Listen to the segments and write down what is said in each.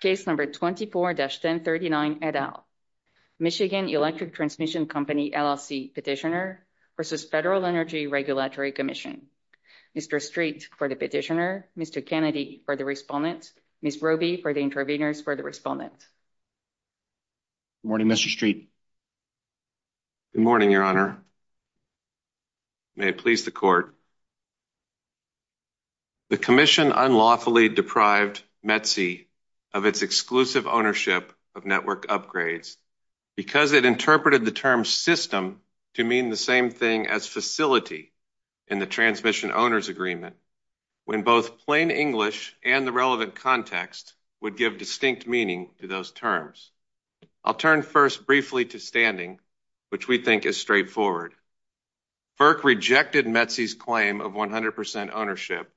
Case No. 24-1039, et al. Michigan Electric Transmission Company, LLC Petitioner v. Federal Energy Regulatory Commission. Mr. Street for the Petitioner, Mr. Kennedy for the Respondent, Ms. Roby for the Intervenors for the Respondent. Good morning, Mr. Street. Good morning, Your Honor. May it please the Court. The Commission unlawfully deprived METC of its exclusive ownership of network upgrades because it interpreted the term system to mean the same thing as facility in the Transmission Owners Agreement, when both plain English and the relevant context would give distinct meaning to those terms. I'll turn first briefly to standing, which we think is straightforward. FERC rejected METC's claim of 100 percent ownership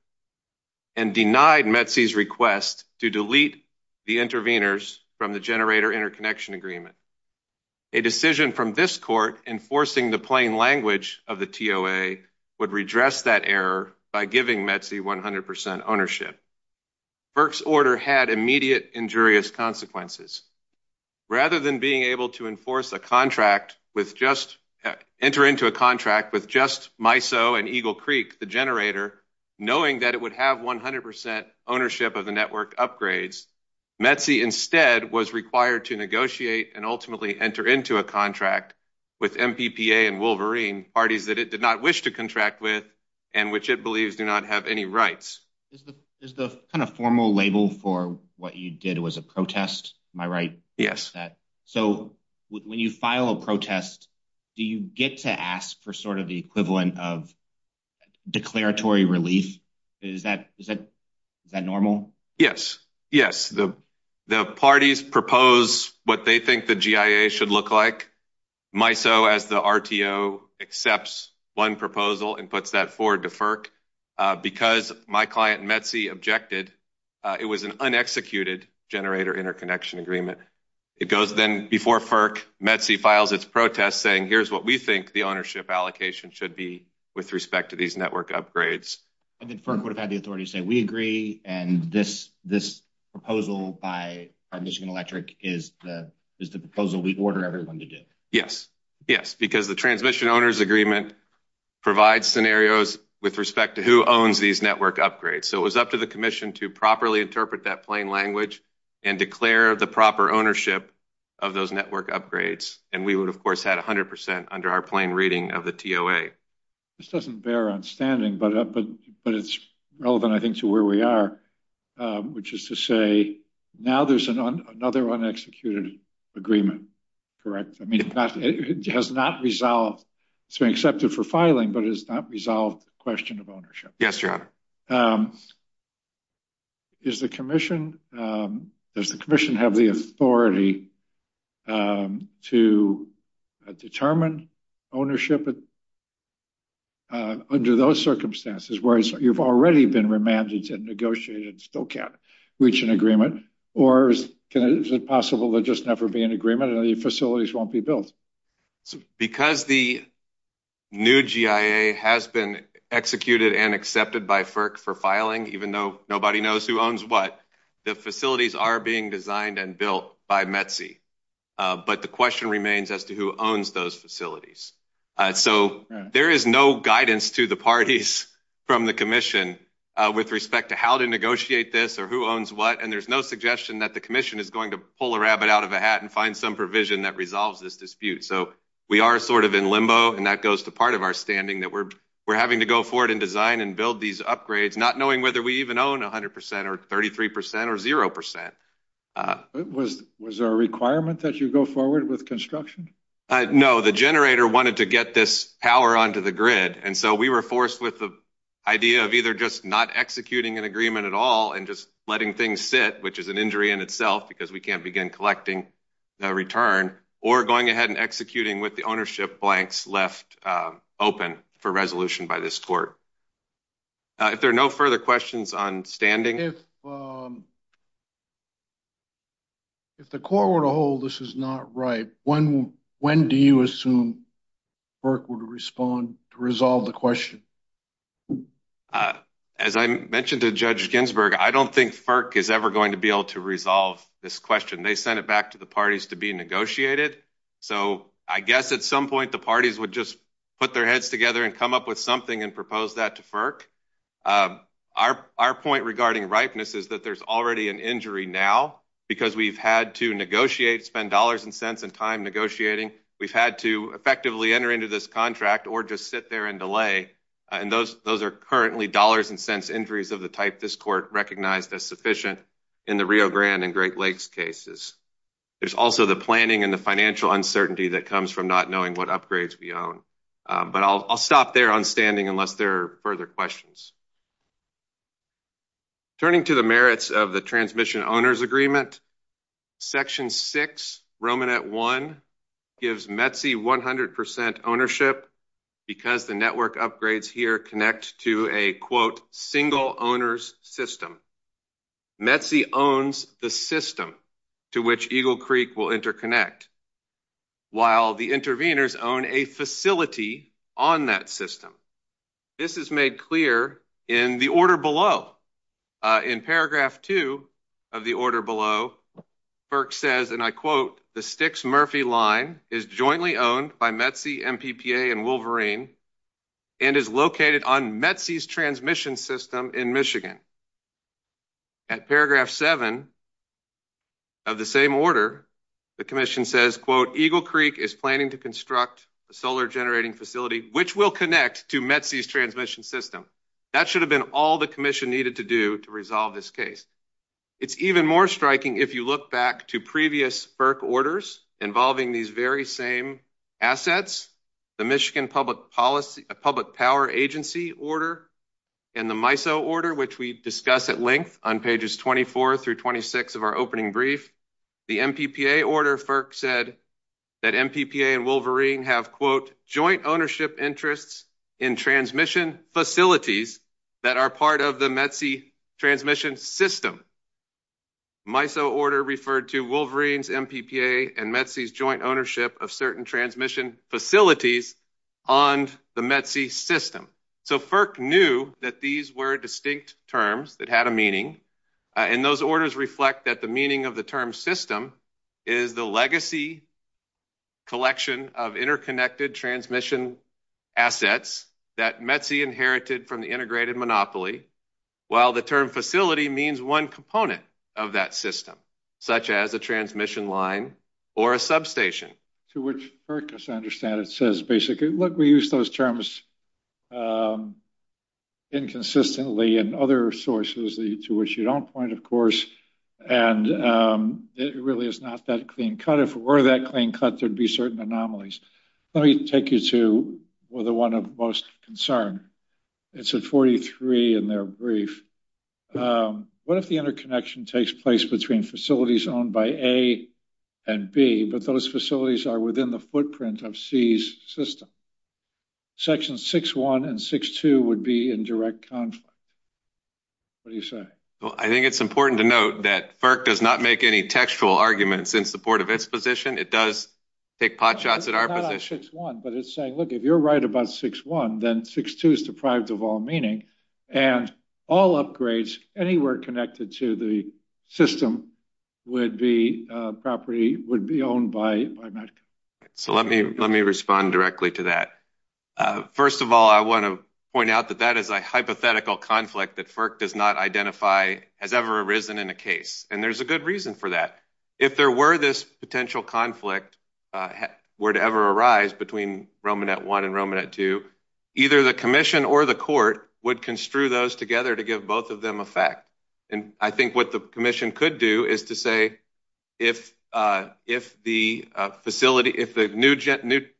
and denied METC's request to delete the intervenors from the Generator Interconnection Agreement. A decision from this Court enforcing the plain language of the TOA would redress that error by giving METC 100 percent ownership. FERC's order had immediate injurious consequences. Rather than being able to enter into a contract with just MISO and Eagle Creek, the generator, knowing that it would have 100 percent ownership of the network upgrades, METC instead was required to negotiate and ultimately enter into a contract with MPPA and Wolverine, parties that it did not wish to contract with and which it believes do not have any rights. Is the kind of formal label for what you did was a protest, am I right? Yes. So when you file a protest, do you get to ask for sort of the equivalent of declaratory relief? Is that normal? Yes. Yes. The parties propose what they think the GIA should look like. MISO, as the RTO, accepts one proposal and puts that forward to FERC. Because my client METC objected, it was an unexecuted Generator Interconnection Agreement. It goes then before FERC, METC files its protest saying, here's what we think the ownership allocation should be with respect to these network upgrades. I think FERC would have had the authority to say, we agree, and this proposal by Michigan Electric is the proposal we order everyone to do. Yes. Yes. Because the Transmission Owners Agreement provides scenarios with respect to who owns these network upgrades. So it was up to the commission to properly interpret that plain language and declare the proper ownership of those network upgrades. And we would, of course, had 100 percent under our plain reading of the TOA. This doesn't bear on standing, but it's relevant, I think, to where we are, which is to say now there's another unexecuted agreement, correct? I mean, it has not resolved. It's been accepted for filing, but it has not resolved the question of ownership. Yes, Your Honor. Does the commission have the authority to determine ownership under those circumstances where you've already been remanded and negotiated and still can't reach an agreement? Or is it possible there just never be an agreement and the facilities won't be built? Because the new GIA has been executed and accepted by FERC for filing, even though nobody knows who owns what, the facilities are being designed and built by METC. But the question remains as to who owns those facilities. So there is no guidance to the parties from the commission with respect to how to negotiate this or who owns what, and there's no suggestion that the commission is going to pull a rabbit out of a hat and find some provision that resolves this dispute. So we are sort of in limbo, and that goes to part of our standing, that we're having to go forward and design and build these upgrades, not knowing whether we even own 100 percent or 33 percent or zero percent. Was there a requirement that you go forward with construction? No, the generator wanted to get this power onto the grid, and so we were forced with the idea of either just not executing an agreement at all and just letting things sit, which is an injury in itself because we can't begin collecting a return, or going ahead and executing with the ownership blanks left open for resolution by this court. If there are no further questions on standing. If the court were to hold this is not right, when do you assume FERC would respond to resolve the question? As I mentioned to Judge Ginsburg, I don't think FERC is ever going to be able to resolve this question. They sent it back to the parties to be negotiated. So I guess at some point the parties would just put their heads together and come up with something and propose that to FERC. Our point regarding ripeness is that there's already an injury now because we've had to negotiate, spend dollars and cents and time negotiating. We've had to effectively enter into this contract or just sit there and delay, and those are currently dollars and cents injuries of the type this court recognized as sufficient in the Rio Grande and Great Lakes cases. There's also the planning and the financial uncertainty that comes from not knowing what upgrades we own. But I'll stop there on standing unless there are further questions. Turning to the merits of the Transmission Owners Agreement, Section 6, Romanette 1, gives METC 100% ownership because the network upgrades here connect to a, quote, single owner's system. METC owns the system to which Eagle Creek will interconnect, while the interveners own a facility on that system. This is made clear in the order below. In paragraph 2 of the order below, FERC says, and I quote, the Styx Murphy line is jointly owned by METC, MPPA and Wolverine and is located on METC's transmission system in Michigan. At paragraph 7 of the same order, the commission says, quote, to METC's transmission system. That should have been all the commission needed to do to resolve this case. It's even more striking if you look back to previous FERC orders involving these very same assets, the Michigan Public Power Agency order and the MISO order, which we discuss at length on pages 24 through 26 of our opening brief. The MPPA order, FERC said that MPPA and Wolverine have, quote, joint ownership interests in transmission facilities that are part of the METC transmission system. MISO order referred to Wolverine's MPPA and METC's joint ownership of certain transmission facilities on the METC system. So FERC knew that these were distinct terms that had a meaning. And those orders reflect that the meaning of the term system is the legacy collection of interconnected transmission assets that METC inherited from the integrated monopoly, while the term facility means one component of that system, such as a transmission line or a substation. To which FERC, as I understand it, says basically, look, we use those terms inconsistently in other sources, to which you don't point, of course, and it really is not that clean cut. If it were that clean cut, there'd be certain anomalies. Let me take you to the one of most concern. It's at 43 in their brief. What if the interconnection takes place between facilities owned by A and B, but those facilities are within the footprint of C's system? Section 6-1 and 6-2 would be in direct conflict. What do you say? Well, I think it's important to note that FERC does not make any textual arguments in support of its position. It does take pot shots at our position. It's not on 6-1, but it's saying, look, if you're right about 6-1, then 6-2 is deprived of all meaning. And all upgrades anywhere connected to the system would be owned by Medica. So let me respond directly to that. First of all, I want to point out that that is a hypothetical conflict that FERC does not identify has ever arisen in a case. And there's a good reason for that. If there were this potential conflict were to ever arise between Romanet 1 and Romanet 2, either the commission or the court would construe those together to give both of them effect. And I think what the commission could do is to say if the facility, if the new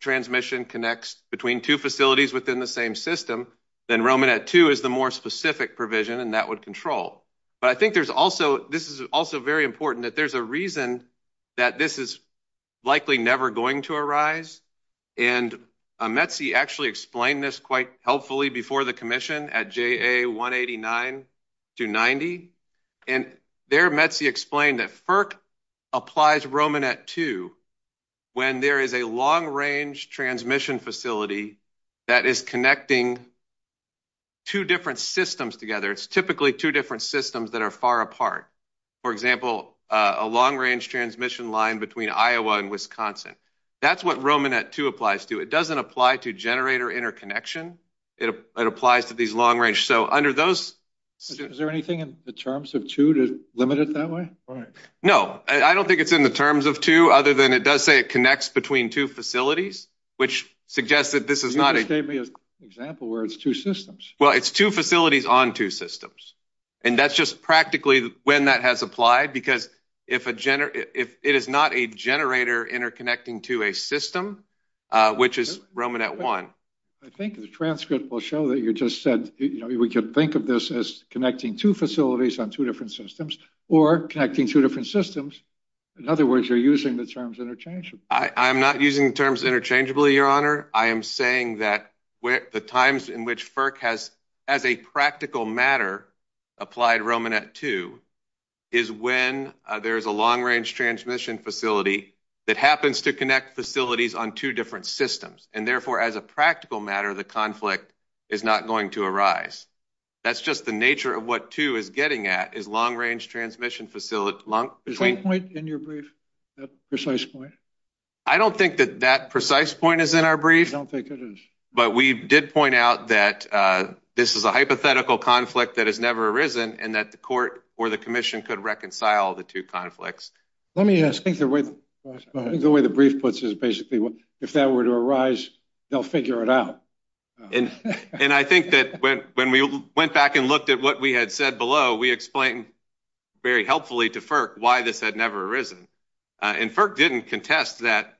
transmission connects between two facilities within the same system, then Romanet 2 is the more specific provision and that would control. But I think there's also this is also very important that there's a reason that this is likely never going to arise. And METC actually explained this quite helpfully before the commission at JA 189-90. And there METC explained that FERC applies Romanet 2 when there is a long range transmission facility that is connecting two different systems together. It's typically two different systems that are far apart. For example, a long range transmission line between Iowa and Wisconsin. That's what Romanet 2 applies to. It doesn't apply to generator interconnection. It applies to these long range. So under those. Is there anything in the terms of two to limit it that way? No, I don't think it's in the terms of two other than it does say it connects between two facilities, which suggests that this is not an example where it's two systems. Well, it's two facilities on two systems. And that's just practically when that has applied. Because if it is not a generator interconnecting to a system, which is Romanet 1. I think the transcript will show that you just said we could think of this as connecting two facilities on two different systems or connecting two different systems. In other words, you're using the terms interchangeably. I'm not using terms interchangeably, Your Honor. I am saying that the times in which FERC has, as a practical matter, applied Romanet 2, is when there is a long range transmission facility that happens to connect facilities on two different systems. And therefore, as a practical matter, the conflict is not going to arise. That's just the nature of what two is getting at is long range transmission facility. Is that point in your brief, that precise point? I don't think that that precise point is in our brief. I don't think it is. But we did point out that this is a hypothetical conflict that has never arisen and that the court or the commission could reconcile the two conflicts. Let me ask. I think the way the brief puts it is basically if that were to arise, they'll figure it out. And I think that when we went back and looked at what we had said below, we explained very helpfully to FERC why this had never arisen. And FERC didn't contest that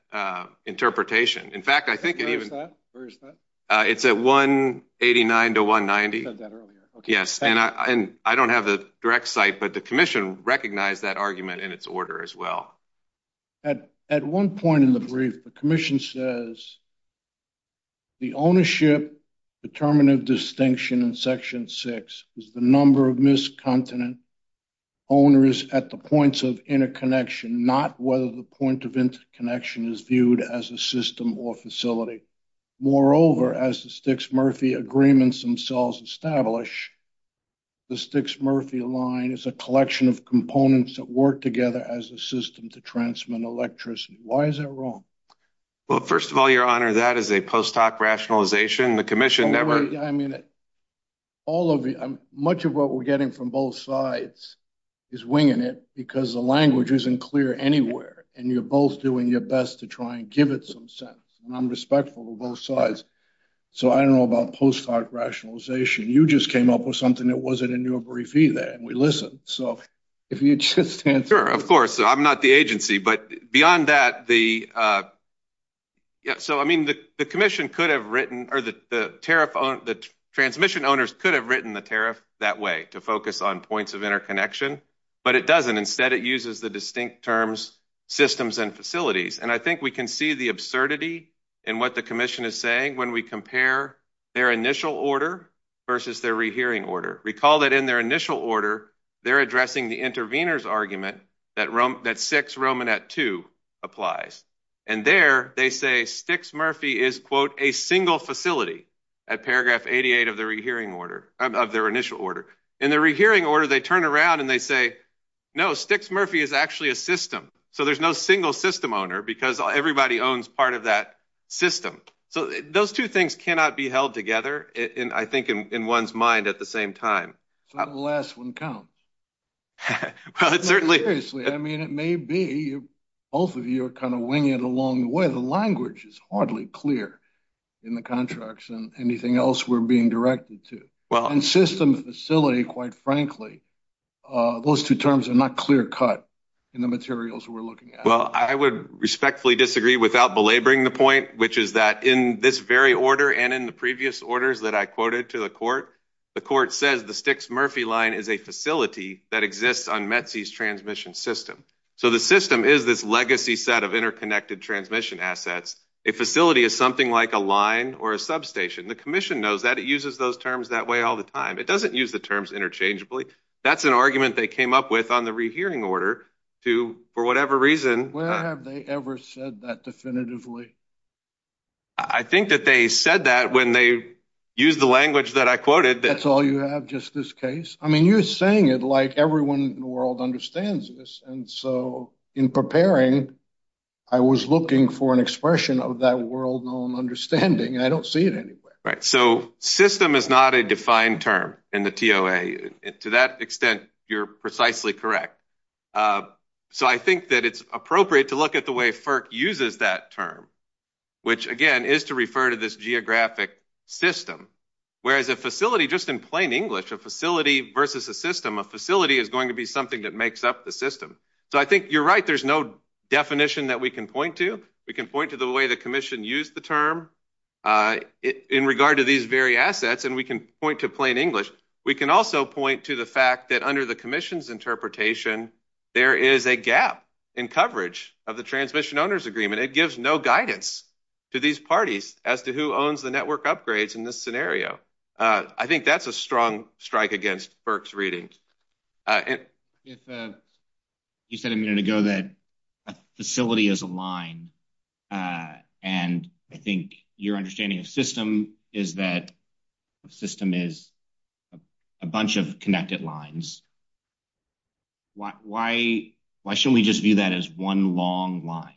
interpretation. Where is that? It's at 189 to 190. You said that earlier. Yes. And I don't have the direct site, but the commission recognized that argument in its order as well. At one point in the brief, the commission says. The ownership determinative distinction in section six is the number of miscontinent owners at the points of interconnection, not whether the point of interconnection is viewed as a system or facility. Moreover, as the Stixmurphy agreements themselves establish, the Stixmurphy line is a collection of components that work together as a system to transmit electricity. Why is that wrong? Well, first of all, your honor, that is a post hoc rationalization. The commission never. I mean, all of much of what we're getting from both sides is winging it because the language isn't clear anywhere. And you're both doing your best to try and give it some sense. And I'm respectful of both sides. So, I don't know about post hoc rationalization. You just came up with something that wasn't in your brief either. And we listen. So, if you just answer, of course, I'm not the agency, but beyond that, the. Yeah, so, I mean, the commission could have written or the tariff on the transmission owners could have written the tariff that way to focus on points of interconnection. But it doesn't instead. It uses the distinct terms, systems and facilities. And I think we can see the absurdity and what the commission is saying when we compare their initial order versus their rehearing order. Recall that in their initial order, they're addressing the interveners argument that that six Roman at two applies. And there they say sticks. Murphy is, quote, a single facility at paragraph eighty eight of the rehearing order of their initial order in the rehearing order. They turn around and they say, no, sticks. Murphy is actually a system. So, there's no single system owner because everybody owns part of that system. So, those two things cannot be held together. And I think in one's mind at the same time, the last one counts. Well, it's certainly seriously. I mean, it may be both of you are kind of winging it along the way. The language is hardly clear in the contracts and anything else we're being directed to. Well, and system facility, quite frankly, those two terms are not clear cut in the materials we're looking at. Well, I would respectfully disagree without belaboring the point, which is that in this very order and in the previous orders that I quoted to the court, the court says the sticks. Murphy line is a facility that exists on Mets transmission system. So, the system is this legacy set of interconnected transmission assets. A facility is something like a line or a substation. The commission knows that it uses those terms that way all the time. It doesn't use the terms interchangeably. That's an argument they came up with on the re-hearing order to, for whatever reason. Where have they ever said that definitively? I think that they said that when they used the language that I quoted. That's all you have, just this case? I mean, you're saying it like everyone in the world understands this. And so, in preparing, I was looking for an expression of that world known understanding. I don't see it anywhere. So, system is not a defined term in the TOA. To that extent, you're precisely correct. So, I think that it's appropriate to look at the way FERC uses that term, which, again, is to refer to this geographic system. Whereas a facility, just in plain English, a facility versus a system, a facility is going to be something that makes up the system. So, I think you're right. There's no definition that we can point to. We can point to the way the commission used the term in regard to these very assets. And we can point to plain English. We can also point to the fact that under the commission's interpretation, there is a gap in coverage of the Transmission Owners Agreement. It gives no guidance to these parties as to who owns the network upgrades in this scenario. I think that's a strong strike against FERC's reading. If you said a minute ago that a facility is a line, and I think your understanding of system is that a system is a bunch of connected lines, why should we just view that as one long line?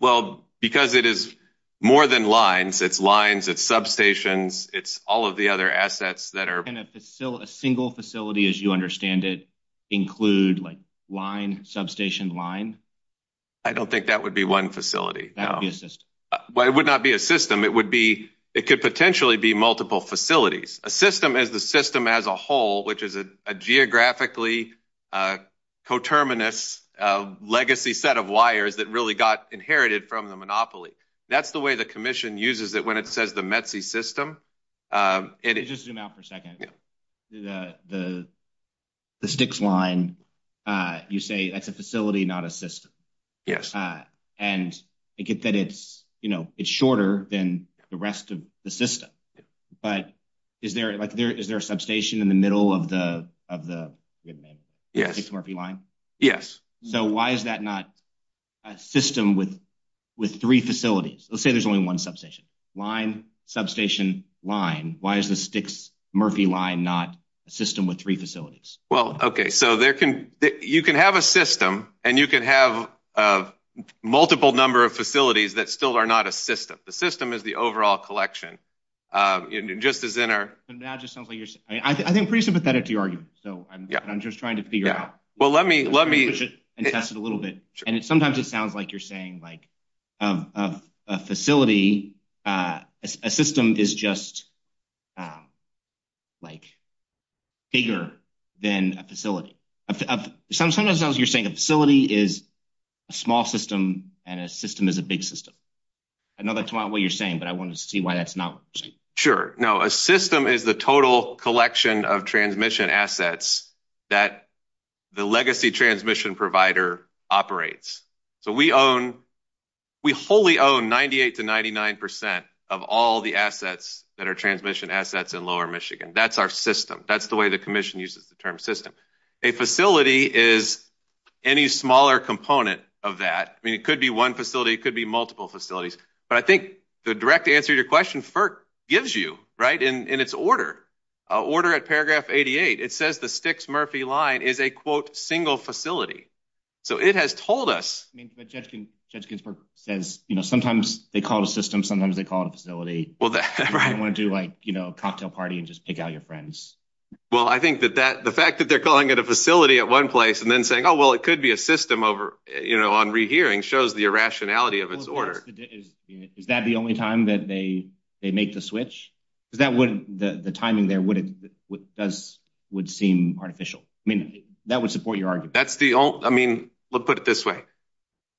Well, because it is more than lines. It's lines. It's substations. It's all of the other assets that are. And a single facility, as you understand it, include, like, line, substation, line? I don't think that would be one facility. That would be a system. Well, it would not be a system. It would be – it could potentially be multiple facilities. A system is the system as a whole, which is a geographically coterminous legacy set of wires that really got inherited from the monopoly. That's the way the commission uses it when it says the METC system. Let me just zoom out for a second. The sticks line, you say that's a facility, not a system. Yes. And I get that it's shorter than the rest of the system. But is there a substation in the middle of the Sticks-Murphy line? Yes. So why is that not a system with three facilities? Let's say there's only one substation. Line, substation, line. Why is the Sticks-Murphy line not a system with three facilities? Well, okay, so you can have a system and you can have a multiple number of facilities that still are not a system. The system is the overall collection, just as in our – That just sounds like you're – I think I'm pretty sympathetic to your argument, so I'm just trying to figure out – Well, let me –– and test it a little bit. And sometimes it sounds like you're saying, like, a facility – a system is just, like, bigger than a facility. Sometimes it sounds like you're saying a facility is a small system and a system is a big system. I know that's not what you're saying, but I wanted to see why that's not what you're saying. Sure. No, a system is the total collection of transmission assets that the legacy transmission provider operates. So we own – we wholly own 98 to 99 percent of all the assets that are transmission assets in Lower Michigan. That's our system. That's the way the commission uses the term system. A facility is any smaller component of that. I mean, it could be one facility. It could be multiple facilities. But I think the direct answer to your question, FERC gives you, right, in its order, order at paragraph 88. It says the Sticks-Murphy line is a, quote, single facility. So it has told us – I mean, but Judge Ginsburg says, you know, sometimes they call it a system, sometimes they call it a facility. Right. You don't want to do, like, you know, a cocktail party and just pick out your friends. Well, I think that that – the fact that they're calling it a facility at one place and then saying, oh, well, it could be a system over, you know, on rehearing shows the irrationality of its order. Is that the only time that they make the switch? Because that would – the timing there would seem artificial. I mean, that would support your argument. That's the – I mean, let's put it this way.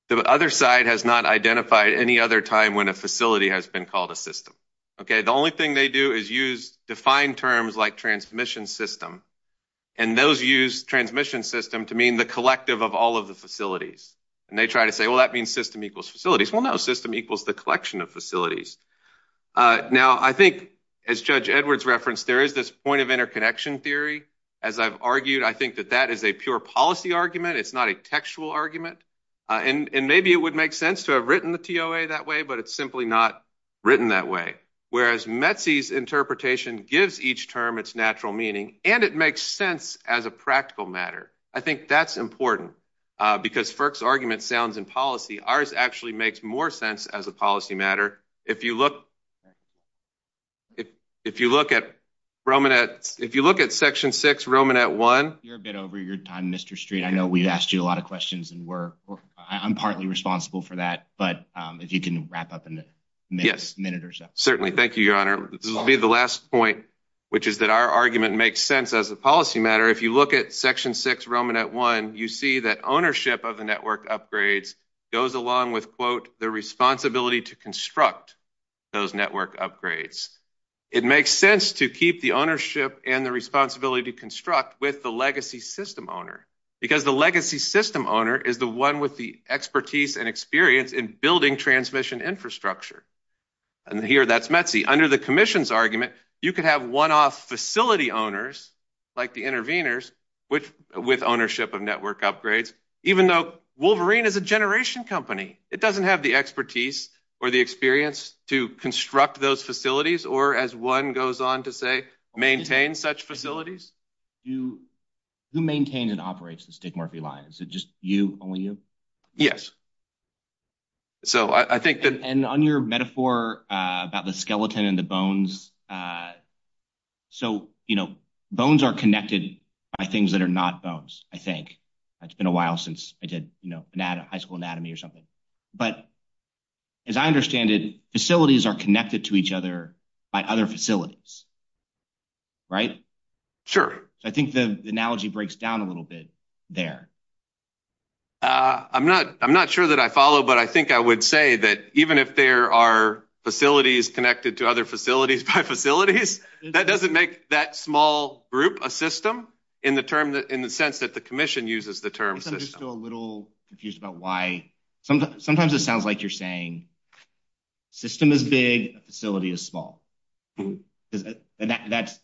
The other side has not identified any other time when a facility has been called a system. Okay. The only thing they do is use defined terms like transmission system. And those use transmission system to mean the collective of all of the facilities. And they try to say, well, that means system equals facilities. Well, no, system equals the collection of facilities. Now, I think, as Judge Edwards referenced, there is this point of interconnection theory. As I've argued, I think that that is a pure policy argument. It's not a textual argument. And maybe it would make sense to have written the TOA that way, but it's simply not written that way. Whereas Metsy's interpretation gives each term its natural meaning, and it makes sense as a practical matter. I think that's important because Firk's argument sounds in policy. Ours actually makes more sense as a policy matter. If you look at Romanet's – if you look at Section 6, Romanet 1. You're a bit over your time, Mr. Street. I know we've asked you a lot of questions, and I'm partly responsible for that. But if you can wrap up in a minute or so. Certainly. Thank you, Your Honor. This will be the last point, which is that our argument makes sense as a policy matter. If you look at Section 6, Romanet 1, you see that ownership of the network upgrades goes along with, quote, the responsibility to construct those network upgrades. It makes sense to keep the ownership and the responsibility to construct with the legacy system owner. Because the legacy system owner is the one with the expertise and experience in building transmission infrastructure. And here, that's Metsy. Under the commission's argument, you could have one-off facility owners, like the interveners, with ownership of network upgrades, even though Wolverine is a generation company. It doesn't have the expertise or the experience to construct those facilities, or as one goes on to say, maintain such facilities. Who maintains and operates the Stigmorphy line? Is it just you, only you? Yes. So I think that. And on your metaphor about the skeleton and the bones. So, you know, bones are connected by things that are not bones, I think. It's been a while since I did high school anatomy or something. But as I understand it, facilities are connected to each other by other facilities. Right? Sure. I think the analogy breaks down a little bit there. I'm not sure that I follow, but I think I would say that even if there are facilities connected to other facilities by facilities, that doesn't make that small group a system in the sense that the commission uses the term system. I'm still a little confused about why. Sometimes it sounds like you're saying system is big, facility is small. If that's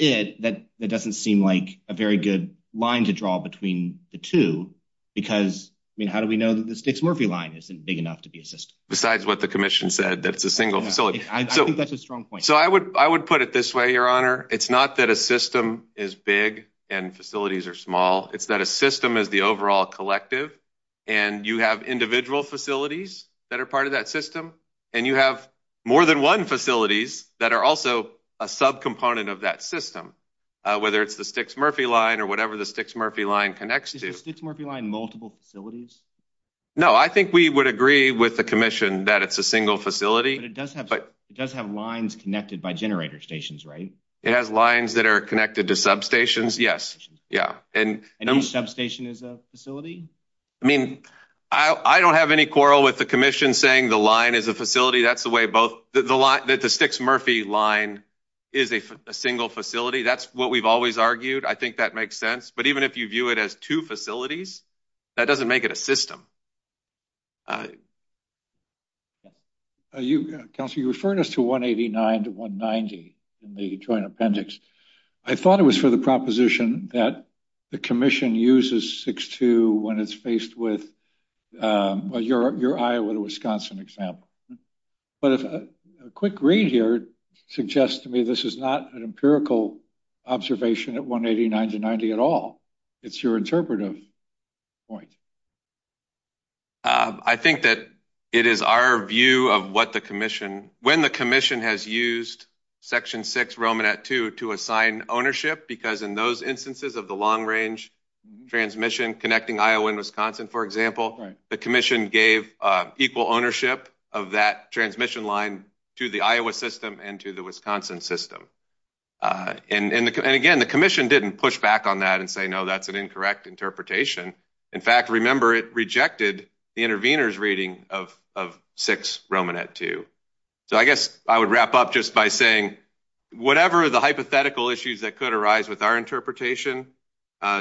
it, that doesn't seem like a very good line to draw between the two. Because, I mean, how do we know that the Stigmorphy line isn't big enough to be a system? Besides what the commission said, that it's a single facility. I think that's a strong point. So I would put it this way, Your Honor. It's not that a system is big and facilities are small. It's that a system is the overall collective. And you have individual facilities that are part of that system. And you have more than one facilities that are also a subcomponent of that system, whether it's the Stigmorphy line or whatever the Stigmorphy line connects to. Is the Stigmorphy line multiple facilities? No, I think we would agree with the commission that it's a single facility. But it does have lines connected by generator stations, right? It has lines that are connected to substations, yes. And each substation is a facility? I mean, I don't have any quarrel with the commission saying the line is a facility. That's the way both the Stigmorphy line is a single facility. That's what we've always argued. I think that makes sense. But even if you view it as two facilities, that doesn't make it a system. Counselor, you referred us to 189 to 190 in the joint appendix. I thought it was for the proposition that the commission uses 6-2 when it's faced with your Iowa to Wisconsin example. But a quick read here suggests to me this is not an empirical observation at 189 to 190 at all. It's your interpretive point. I think that it is our view of what the commission, when the commission has used section 6-2 to assign ownership, because in those instances of the long-range transmission connecting Iowa and Wisconsin, for example, the commission gave equal ownership of that transmission line to the Iowa system and to the Wisconsin system. And, again, the commission didn't push back on that and say, no, that's an incorrect interpretation. In fact, remember, it rejected the intervener's reading of 6-2. So I guess I would wrap up just by saying whatever the hypothetical issues that could arise with our interpretation,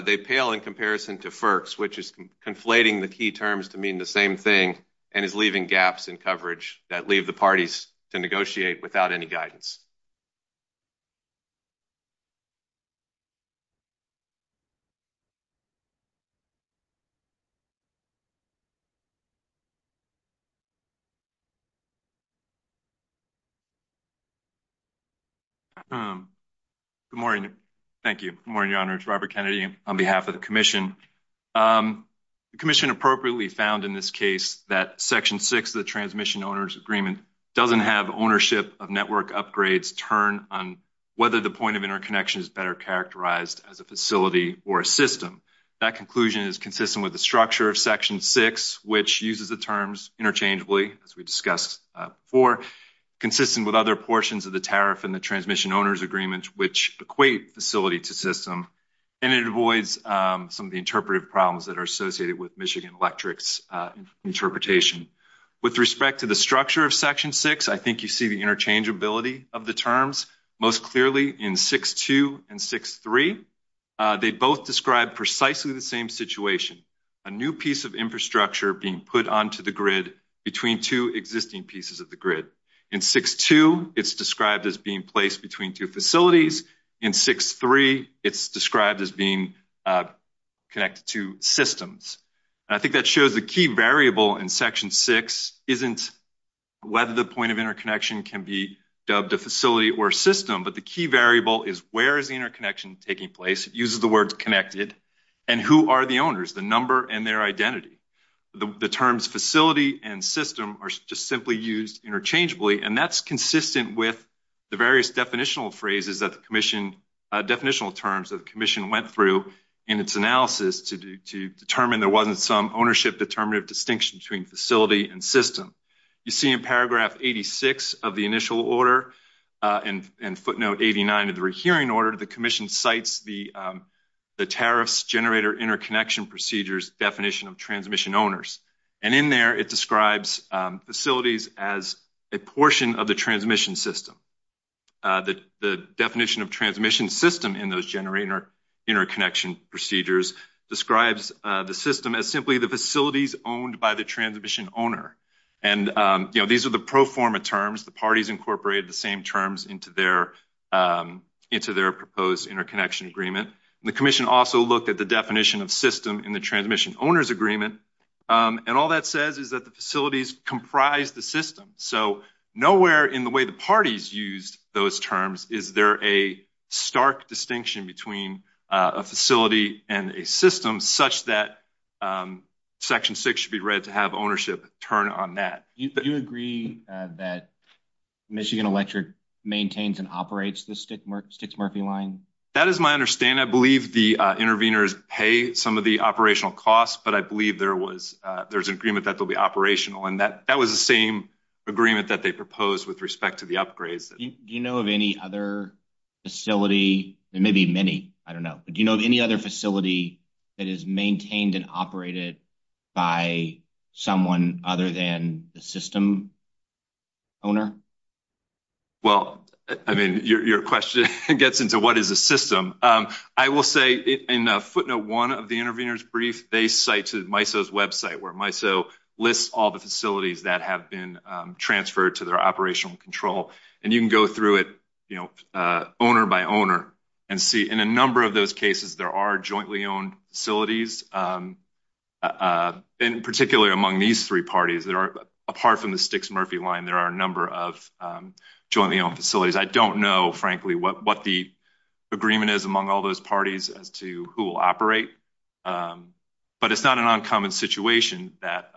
they pale in comparison to FERC's, which is conflating the key terms to mean the same thing and is leaving gaps in coverage that leave the parties to negotiate without any guidance. Thank you. Good morning. Thank you. Good morning, Your Honors. Robert Kennedy on behalf of the commission. The commission appropriately found in this case that section 6 of the transmission owner's agreement doesn't have ownership of network upgrades turn on whether the point of interconnection is better characterized as a facility or a system. That conclusion is consistent with the structure of section 6, which uses the terms interchangeably, as we discussed before, consistent with other portions of the tariff and the transmission owner's agreement, which equate facility to system. And it avoids some of the interpretive problems that are associated with Michigan Electric's interpretation. With respect to the structure of section 6, I think you see the interchangeability of the terms most clearly in 6-2 and 6-3. They both describe precisely the same situation, a new piece of infrastructure being put onto the grid between two existing pieces of the grid. In 6-2, it's described as being placed between two facilities. In 6-3, it's described as being connected to systems. And I think that shows the key variable in section 6 isn't whether the point of interconnection can be dubbed a facility or a system, but the key variable is where is the interconnection taking place? It uses the words connected. And who are the owners, the number and their identity? The terms facility and system are just simply used interchangeably, and that's consistent with the various definitional terms that the commission went through in its analysis to determine there wasn't some ownership determinative distinction between facility and system. You see in paragraph 86 of the initial order and footnote 89 of the rehearing order, the commission cites the tariffs generator interconnection procedures definition of transmission owners. And in there, it describes facilities as a portion of the transmission system. The definition of transmission system in those generator interconnection procedures describes the system as simply the facilities owned by the transmission owner. And these are the pro forma terms. The parties incorporated the same terms into their proposed interconnection agreement. The commission also looked at the definition of system in the transmission owners agreement, and all that says is that the facilities comprise the system. So nowhere in the way the parties used those terms is there a stark distinction between a facility and a system such that section 6 should be read to have ownership turn on that. Do you agree that Michigan Electric maintains and operates the Sticks Murphy line? That is my understanding. I believe the interveners pay some of the operational costs, but I believe there's an agreement that they'll be operational. And that was the same agreement that they proposed with respect to the upgrades. Do you know of any other facility? There may be many. I don't know. But do you know of any other facility that is maintained and operated by someone other than the system owner? Well, I mean, your question gets into what is a system. I will say in footnote 1 of the intervener's brief, they cite to MISO's website where MISO lists all the facilities that have been transferred to their operational control. And you can go through it, you know, owner by owner and see. In a number of those cases, there are jointly owned facilities, and particularly among these three parties that are apart from the Sticks Murphy line, there are a number of jointly owned facilities. I don't know, frankly, what the agreement is among all those parties as to who will operate. But it's not an uncommon situation that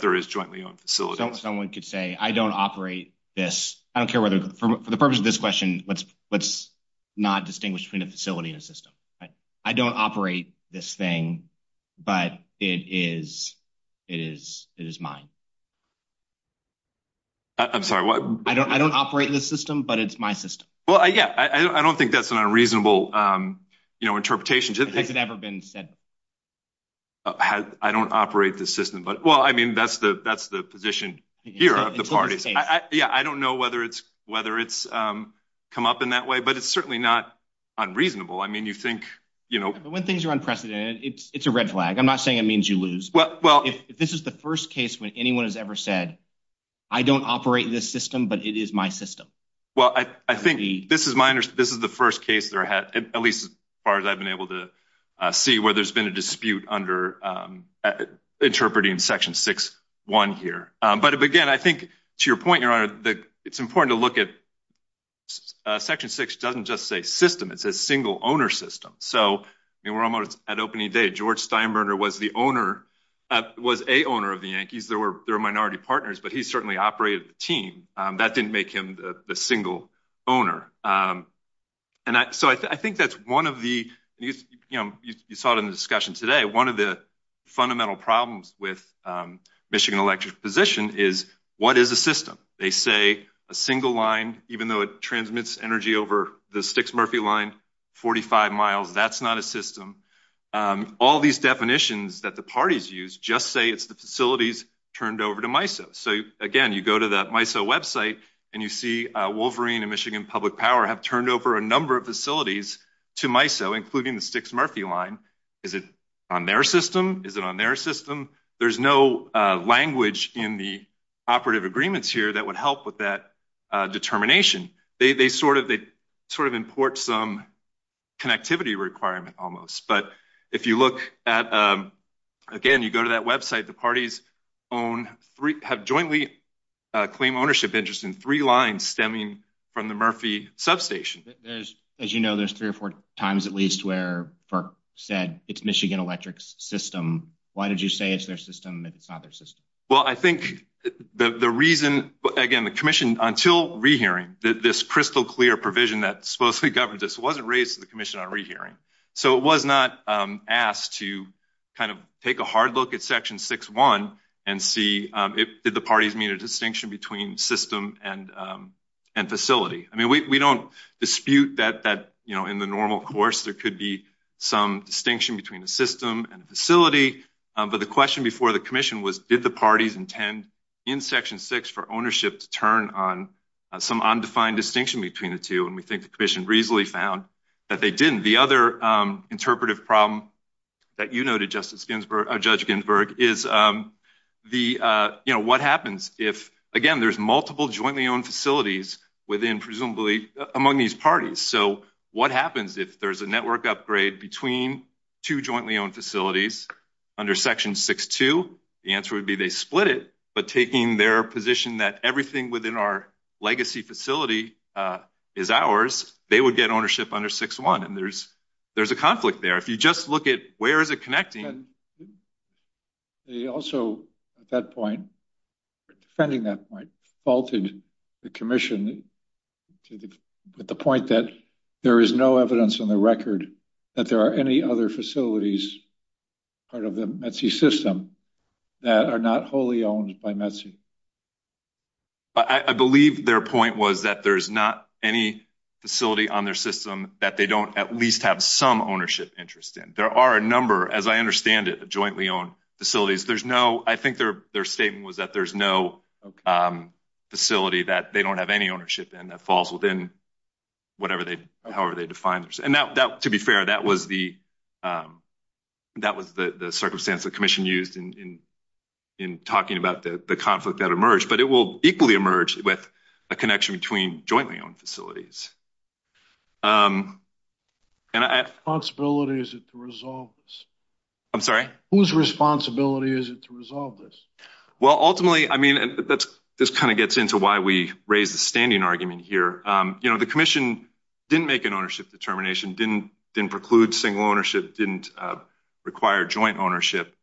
there is jointly owned facilities. Someone could say, I don't operate this. I don't care whether for the purpose of this question, let's not distinguish between a facility and a system. I don't operate this thing, but it is mine. I'm sorry. I don't operate this system, but it's my system. Well, yeah, I don't think that's an unreasonable interpretation. Has it ever been said? I don't operate the system. But, well, I mean, that's the position here of the parties. Yeah, I don't know whether it's come up in that way, but it's certainly not unreasonable. I mean, you think, you know. When things are unprecedented, it's a red flag. I'm not saying it means you lose. If this is the first case when anyone has ever said, I don't operate this system, but it is my system. Well, I think this is the first case that I had, at least as far as I've been able to see, where there's been a dispute under interpreting Section 6-1 here. But, again, I think, to your point, Your Honor, it's important to look at Section 6 doesn't just say system. It says single owner system. So, I mean, we're almost at opening day. George Steinbrenner was the owner, was a owner of the Yankees. They were minority partners, but he certainly operated the team. That didn't make him the single owner. And so I think that's one of the, you know, you saw it in the discussion today. One of the fundamental problems with Michigan Electric's position is what is a system? They say a single line, even though it transmits energy over the Sticks-Murphy line, 45 miles. That's not a system. All these definitions that the parties use just say it's the facilities turned over to MISO. So, again, you go to the MISO website, and you see Wolverine and Michigan Public Power have turned over a number of facilities to MISO, including the Sticks-Murphy line. Is it on their system? Is it on their system? There's no language in the operative agreements here that would help with that determination. They sort of import some connectivity requirement almost. But if you look at, again, you go to that website, the parties have jointly claimed ownership interest in three lines stemming from the Murphy substation. As you know, there's three or four times at least where FERC said it's Michigan Electric's system. Why did you say it's their system if it's not their system? Well, I think the reason, again, the commission, until rehearing, this crystal clear provision that supposedly governs this wasn't raised to the commission on rehearing. So it was not asked to kind of take a hard look at Section 6.1 and see if the parties made a distinction between system and facility. I mean, we don't dispute that in the normal course there could be some distinction between a system and a facility. But the question before the commission was, did the parties intend in Section 6 for ownership to turn on some undefined distinction between the two? And we think the commission reasonably found that they didn't. And the other interpretive problem that you noted, Judge Ginsburg, is what happens if, again, there's multiple jointly owned facilities within presumably among these parties. So what happens if there's a network upgrade between two jointly owned facilities under Section 6.2? The answer would be they split it. But taking their position that everything within our legacy facility is ours, they would get ownership under 6.1. And there's a conflict there. If you just look at where is it connecting? They also at that point, defending that point, faulted the commission with the point that there is no evidence on the record that there are any other facilities part of the METC system that are not wholly owned by METC. I believe their point was that there is not any facility on their system that they don't at least have some ownership interest in. There are a number, as I understand it, of jointly owned facilities. There's no ‑‑ I think their statement was that there's no facility that they don't have any ownership in that falls within whatever they ‑‑ however they define it. And to be fair, that was the circumstance the commission used in talking about the conflict that emerged. But it will equally emerge with a connection between jointly owned facilities. And I ‑‑ Whose responsibility is it to resolve this? I'm sorry? Whose responsibility is it to resolve this? Well, ultimately, I mean, this kind of gets into why we raised the standing argument here. You know, the commission didn't make an ownership determination, didn't preclude single ownership, didn't require joint ownership.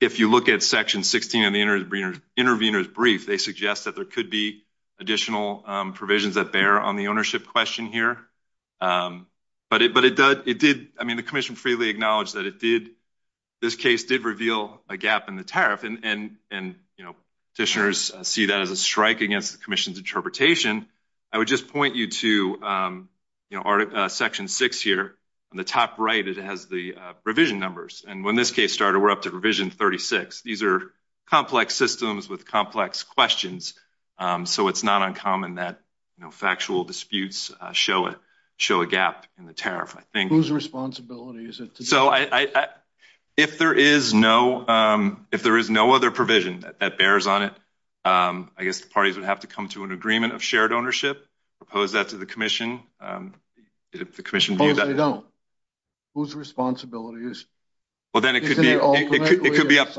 If you look at section 16 of the intervener's brief, they suggest that there could be additional provisions that bear on the ownership question here. But it did ‑‑ I mean, the commission freely acknowledged that it did ‑‑ this case did reveal a gap in the tariff. And, you know, petitioners see that as a strike against the commission's interpretation. I would just point you to, you know, section 6 here. On the top right, it has the revision numbers. And when this case started, we're up to revision 36. These are complex systems with complex questions. So it's not uncommon that, you know, factual disputes show a gap in the tariff, I think. Whose responsibility is it to do that? So I ‑‑ if there is no ‑‑ if there is no other provision that bears on it, I guess the parties would have to come to an agreement of shared ownership, propose that to the commission, if the commission ‑‑ Suppose they don't. Whose responsibility is it? Well, then it could be up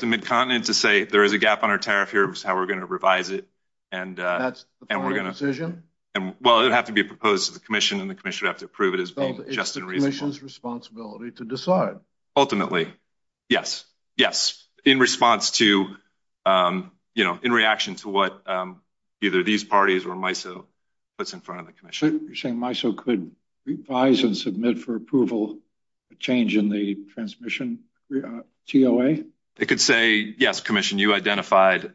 to Midcontinent to say there is a gap on our tariff here. That's how we're going to revise it. And we're going to ‑‑ Well, it would have to be proposed to the commission, and the commission would have to approve it as being just and reasonable. So it's the commission's responsibility to decide. Ultimately, yes. Yes. In response to, you know, in reaction to what either these parties or MISO puts in front of the commission. You're saying MISO could revise and submit for approval a change in the transmission TOA? It could say, yes, commission, you identified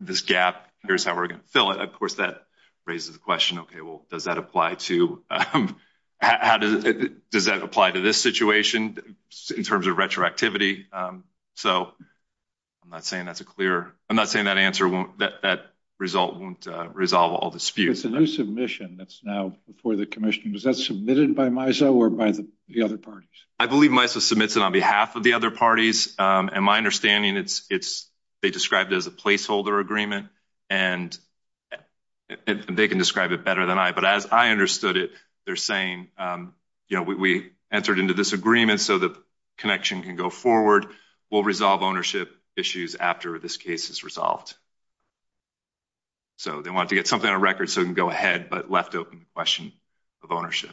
this gap. Here's how we're going to fill it. Of course, that raises the question, okay, well, does that apply to ‑‑ how does that apply to this situation in terms of retroactivity? So I'm not saying that's a clear ‑‑ I'm not saying that answer won't ‑‑ that result won't resolve all disputes. It's a new submission that's now before the commission. Was that submitted by MISO or by the other parties? I believe MISO submits it on behalf of the other parties. And my understanding, it's ‑‑ they described it as a placeholder agreement. And they can describe it better than I. But as I understood it, they're saying, you know, we entered into this agreement so the connection can go forward. We'll resolve ownership issues after this case is resolved. So they want to get something on record so it can go ahead but left open the question of ownership.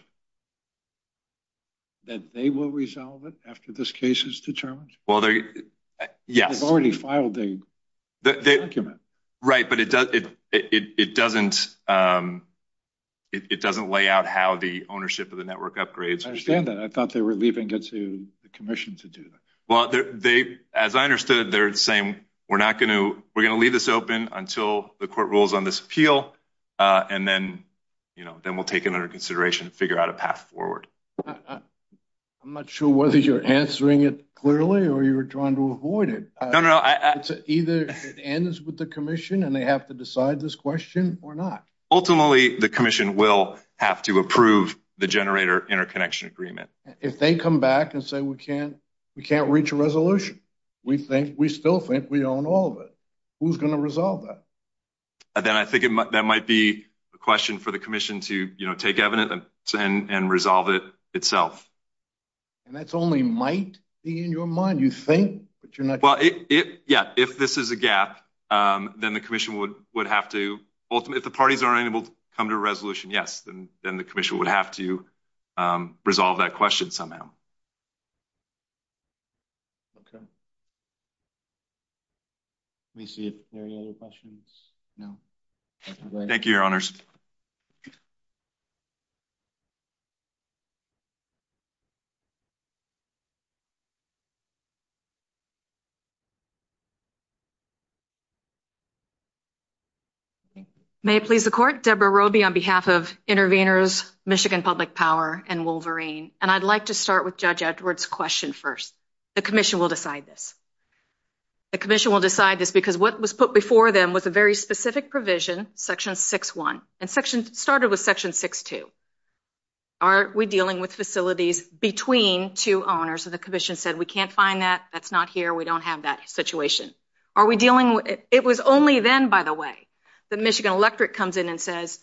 That they will resolve it after this case is determined? Well, they're ‑‑ yes. They've already filed the document. Right, but it doesn't ‑‑ it doesn't lay out how the ownership of the network upgrades. I understand that. I thought they were leaving it to the commission to do that. Well, they ‑‑ as I understood, they're saying we're not going to ‑‑ we're going to leave this open until the court rules on this appeal. And then, you know, then we'll take it under consideration and figure out a path forward. I'm not sure whether you're answering it clearly or you're trying to avoid it. No, no, no. Either it ends with the commission and they have to decide this question or not. Ultimately, the commission will have to approve the generator interconnection agreement. If they come back and say we can't ‑‑ we can't reach a resolution, we think ‑‑ we still think we own all of it, who's going to resolve that? Then I think that might be a question for the commission to, you know, take evidence and resolve it itself. And that's only might be in your mind. You think, but you're not sure. Well, yeah, if this is a gap, then the commission would have to ‑‑ if the parties are unable to come to a resolution, yes, then the commission would have to resolve that question somehow. Okay. Let me see if there are any other questions. Thank you, Your Honors. May it please the Court, Deborah Roby on behalf of Intervenors, Michigan Public Power, and Wolverine. And I'd like to start with Judge Edwards' question first. The commission will decide this. The commission will decide this because what was put before them was a very specific provision, Section 6.1, and started with Section 6.2. Are we dealing with facilities between two owners? And the commission said we can't find that. That's not here. We don't have that situation. Are we dealing with ‑‑ it was only then, by the way, that Michigan Electric comes in and says,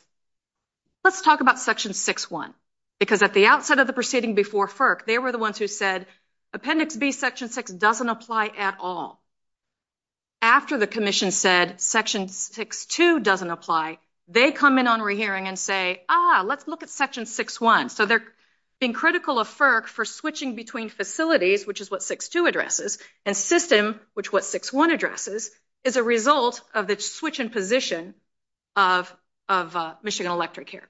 let's talk about Section 6.1. Because at the outset of the proceeding before FERC, they were the ones who said Appendix B, Section 6, doesn't apply at all. After the commission said Section 6.2 doesn't apply, they come in on rehearing and say, ah, let's look at Section 6.1. So they're being critical of FERC for switching between facilities, which is what 6.2 addresses, and system, which is what 6.1 addresses, is a result of the switch in position of Michigan Electric here.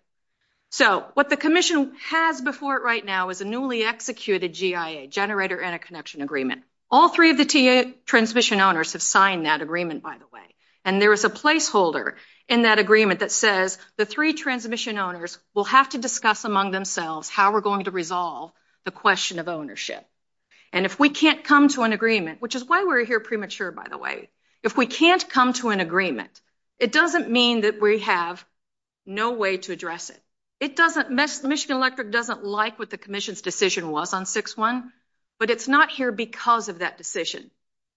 So what the commission has before it right now is a newly executed GIA, Generator Interconnection Agreement. All three of the transmission owners have signed that agreement, by the way. And there is a placeholder in that agreement that says the three transmission owners will have to discuss among themselves how we're going to resolve the question of ownership. And if we can't come to an agreement, which is why we're here premature, by the way, if we can't come to an agreement, it doesn't mean that we have no way to address it. It doesn't ‑‑ Michigan Electric doesn't like what the commission's decision was on 6.1, but it's not here because of that decision.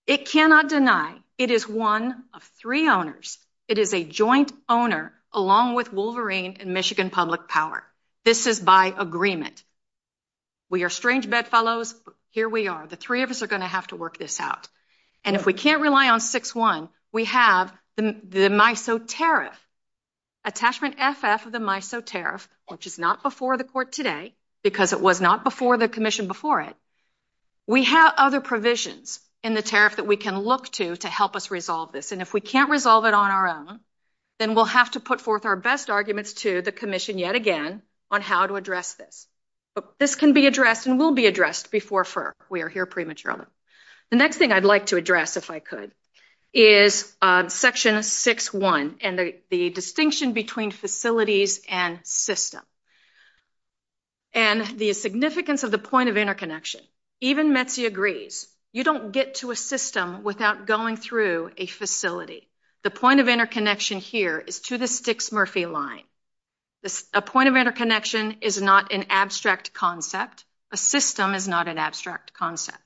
It cannot deny it is one of three owners. It is a joint owner along with Wolverine and Michigan Public Power. This is by agreement. We are strange bedfellows, but here we are. The three of us are going to have to work this out. And if we can't rely on 6.1, we have the MISO tariff, attachment FF of the MISO tariff, which is not before the court today because it was not before the commission before it. We have other provisions in the tariff that we can look to to help us resolve this. And if we can't resolve it on our own, then we'll have to put forth our best arguments to the commission yet again on how to address this. But this can be addressed and will be addressed before we are here prematurely. The next thing I'd like to address, if I could, is Section 6.1 and the distinction between facilities and system. And the significance of the point of interconnection. Even Metsi agrees. You don't get to a system without going through a facility. The point of interconnection here is to the Stixmurphy line. A point of interconnection is not an abstract concept. A system is not an abstract concept.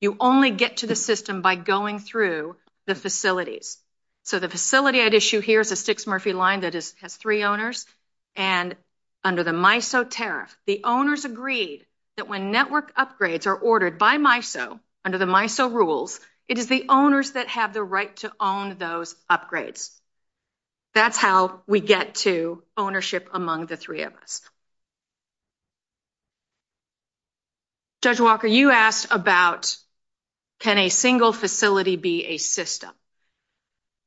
You only get to the system by going through the facilities. So the facility I'd issue here is a Stixmurphy line that has three owners. And under the MISO tariff, the owners agreed that when network upgrades are ordered by MISO, under the MISO rules, it is the owners that have the right to own those upgrades. That's how we get to ownership among the three of us. Judge Walker, you asked about can a single facility be a system.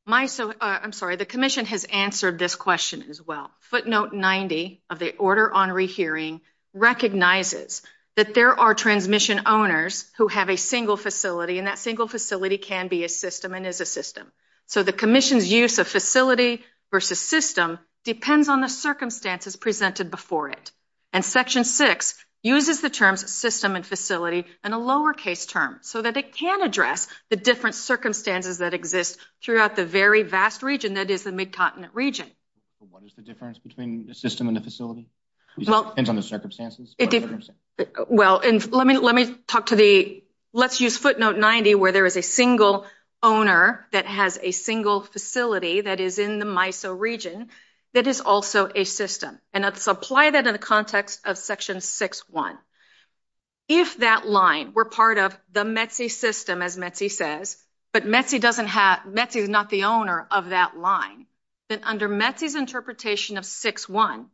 The Commission has answered this question as well. Footnote 90 of the Order on Rehearing recognizes that there are transmission owners who have a single facility, and that single facility can be a system and is a system. So the Commission's use of facility versus system depends on the circumstances presented before it. And Section 6 uses the terms system and facility in a lowercase term so that it can address the different circumstances that exist throughout the very vast region that is the Mid-Continent region. What is the difference between a system and a facility? It depends on the circumstances. Well, let me talk to the – let's use footnote 90 where there is a single owner that has a single facility that is in the MISO region that is also a system. And let's apply that in the context of Section 6.1. If that line were part of the METC system, as METC says, but METC doesn't have – METC is not the owner of that line, then under METC's interpretation of 6.1,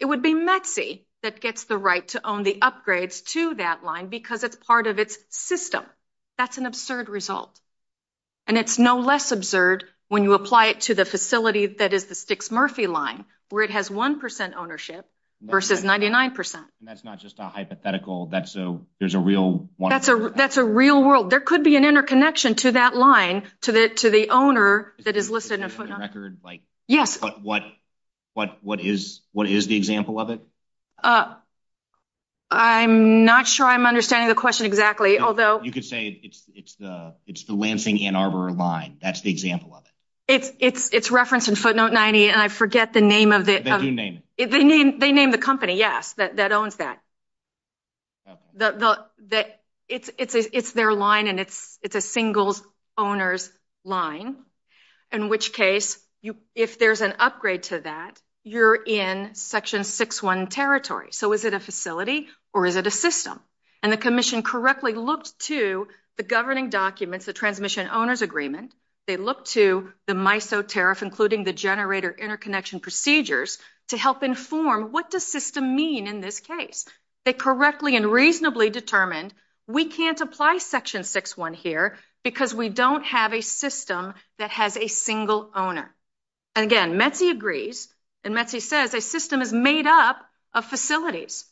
it would be METC that gets the right to own the upgrades to that line because it's part of its system. That's an absurd result. And it's no less absurd when you apply it to the facility that is the Stixmurphy line where it has 1 percent ownership versus 99 percent. And that's not just a hypothetical. That's a – there's a real – That's a real world. There could be an interconnection to that line to the owner that is listed in footnote 90. Yes. But what is the example of it? I'm not sure I'm understanding the question exactly, although – You could say it's the Lansing-Ann Arbor line. That's the example of it. It's referenced in footnote 90, and I forget the name of the – They do name it. They name the company, yes, that owns that. It's their line, and it's a single owner's line, in which case if there's an upgrade to that, you're in Section 6.1 territory. So is it a facility or is it a system? And the commission correctly looked to the governing documents, the transmission owner's agreement. They looked to the MISO tariff, including the generator interconnection procedures, to help inform what does system mean in this case. They correctly and reasonably determined we can't apply Section 6.1 here because we don't have a system that has a single owner. And, again, Metsy agrees, and Metsy says a system is made up of facilities.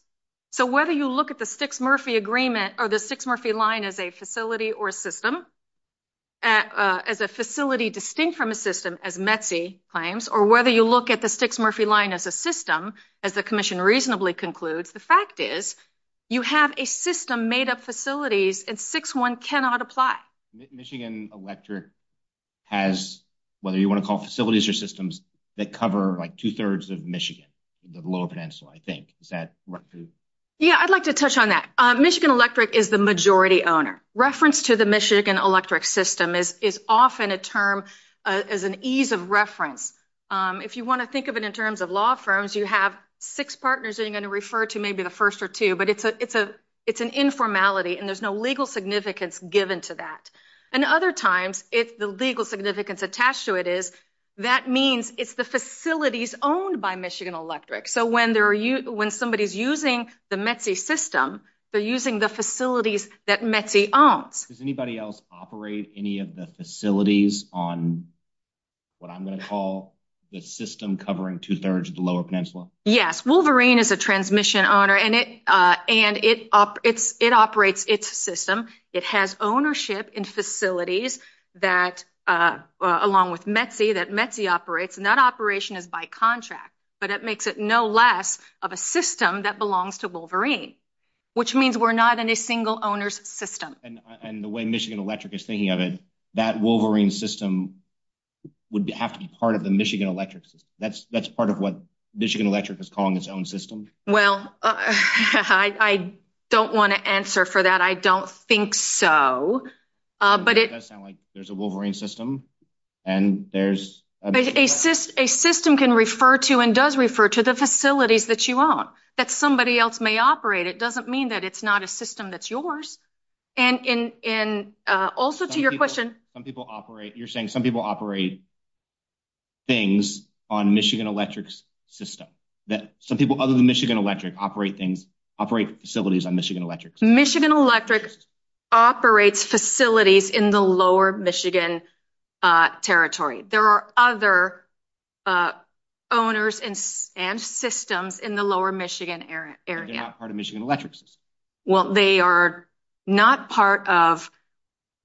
So whether you look at the Stixmurphy agreement or the Stixmurphy line as a facility or a system, as a facility distinct from a system, as Metsy claims, or whether you look at the Stixmurphy line as a system, as the commission reasonably concludes, the fact is you have a system made up of facilities, and 6.1 cannot apply. Michigan Electric has, whether you want to call facilities or systems, that cover like two-thirds of Michigan, the Lower Peninsula, I think. Is that correct? Yeah, I'd like to touch on that. Michigan Electric is the majority owner. Reference to the Michigan Electric system is often a term as an ease of reference. If you want to think of it in terms of law firms, you have six partners that you're going to refer to, maybe the first or two. But it's an informality, and there's no legal significance given to that. And other times, if the legal significance attached to it is, that means it's the facilities owned by Michigan Electric. So when somebody's using the Metsy system, they're using the facilities that Metsy owns. Does anybody else operate any of the facilities on what I'm going to call the system covering two-thirds of the Lower Peninsula? Yes, Wolverine is a transmission owner, and it operates its system. It has ownership in facilities that, along with Metsy, that Metsy operates, and that operation is by contract. But that makes it no less of a system that belongs to Wolverine, which means we're not in a single owner's system. And the way Michigan Electric is thinking of it, that Wolverine system would have to be part of the Michigan Electric system. That's part of what Michigan Electric is calling its own system? Well, I don't want to answer for that. I don't think so. It does sound like there's a Wolverine system, and there's a Michigan Electric. A system can refer to and does refer to the facilities that you own. That somebody else may operate it doesn't mean that it's not a system that's yours. And also to your question. You're saying some people operate things on Michigan Electric's system, that some people other than Michigan Electric operate facilities on Michigan Electric's system? Michigan Electric operates facilities in the Lower Michigan Territory. There are other owners and systems in the Lower Michigan area. They're not part of Michigan Electric's system? Well, they are not part of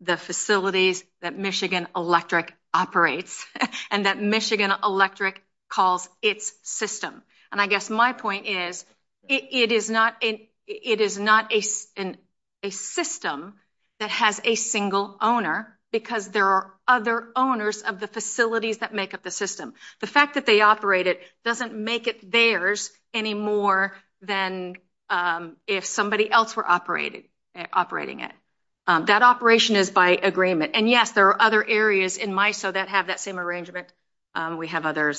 the facilities that Michigan Electric operates and that Michigan Electric calls its system. And I guess my point is, it is not a system that has a single owner because there are other owners of the facilities that make up the system. The fact that they operate it doesn't make it theirs any more than if somebody else were operating it. That operation is by agreement. And, yes, there are other areas in MISO that have that same arrangement. We have other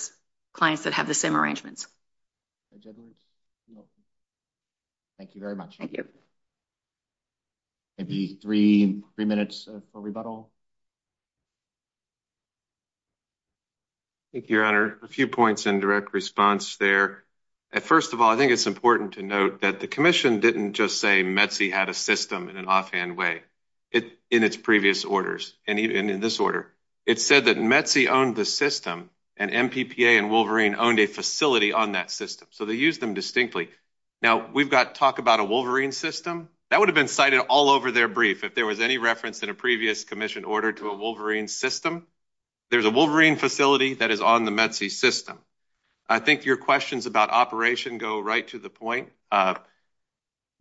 clients that have the same arrangements. Thank you very much. Thank you. Maybe three minutes for rebuttal. Thank you, Your Honor. A few points in direct response there. First of all, I think it's important to note that the commission didn't just say METC had a system in an offhand way in its previous orders and in this order. It said that METC owned the system and MPPA and Wolverine owned a facility on that system. So they used them distinctly. Now, we've got talk about a Wolverine system. That would have been cited all over their brief if there was any reference in a previous commission order to a Wolverine system. There's a Wolverine facility that is on the METC system. I think your questions about operation go right to the point.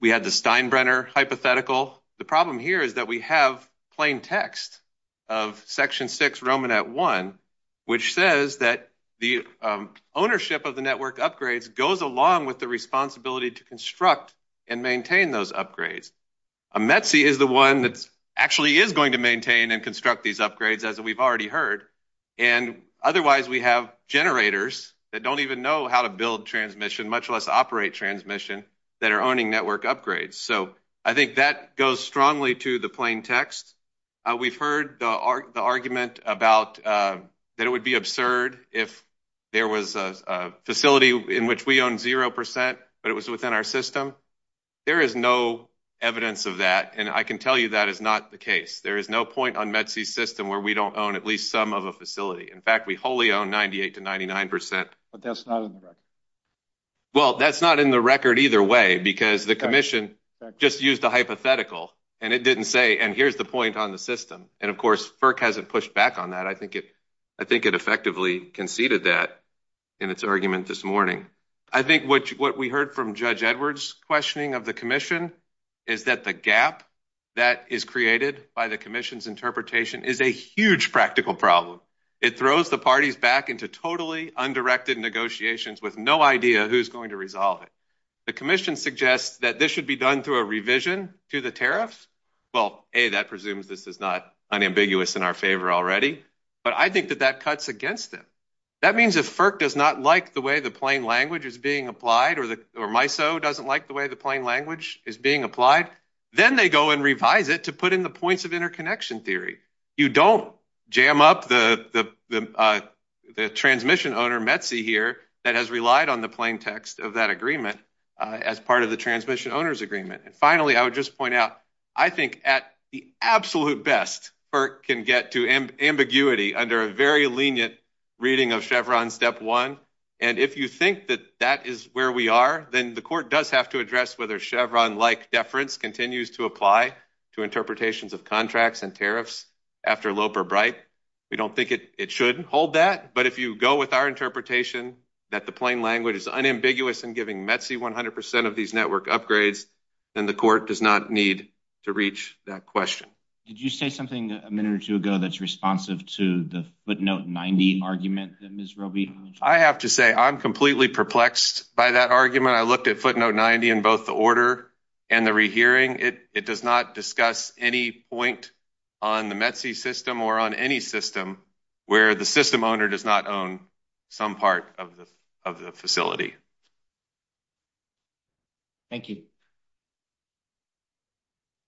We had the Steinbrenner hypothetical. The problem here is that we have plain text of Section 6 Roman at 1, which says that the ownership of the network upgrades goes along with the responsibility to construct and maintain those upgrades. METC is the one that actually is going to maintain and construct these upgrades, as we've already heard. And otherwise, we have generators that don't even know how to build transmission, much less operate transmission, that are owning network upgrades. So I think that goes strongly to the plain text. We've heard the argument about that it would be absurd if there was a facility in which we own 0 percent, but it was within our system. There is no evidence of that, and I can tell you that is not the case. There is no point on METC's system where we don't own at least some of a facility. In fact, we wholly own 98 to 99 percent. But that's not in the record. Well, that's not in the record either way, because the commission just used a hypothetical, and it didn't say, and here's the point on the system. And, of course, FERC hasn't pushed back on that. I think it effectively conceded that in its argument this morning. I think what we heard from Judge Edwards' questioning of the commission is that the gap that is created by the commission's interpretation is a huge practical problem. It throws the parties back into totally undirected negotiations with no idea who's going to resolve it. The commission suggests that this should be done through a revision to the tariffs. Well, A, that presumes this is not unambiguous in our favor already, but I think that that cuts against them. That means if FERC does not like the way the plain language is being applied or MISO doesn't like the way the plain language is being applied, then they go and revise it to put in the points of interconnection theory. You don't jam up the transmission owner, METC, here that has relied on the plain text of that agreement as part of the transmission owner's agreement. And, finally, I would just point out, I think at the absolute best, FERC can get to ambiguity under a very lenient reading of Chevron step one. And if you think that that is where we are, then the court does have to address whether Chevron-like deference continues to apply to interpretations of contracts and tariffs after Loeb or Bright. We don't think it should hold that. But if you go with our interpretation that the plain language is unambiguous in giving METC 100% of these network upgrades, then the court does not need to reach that question. Did you say something a minute or two ago that's responsive to the footnote 90 argument that Ms. Roby mentioned? I have to say I'm completely perplexed by that argument. I looked at footnote 90 in both the order and the rehearing. It does not discuss any point on the METC system or on any system where the system owner does not own some part of the facility. Thank you.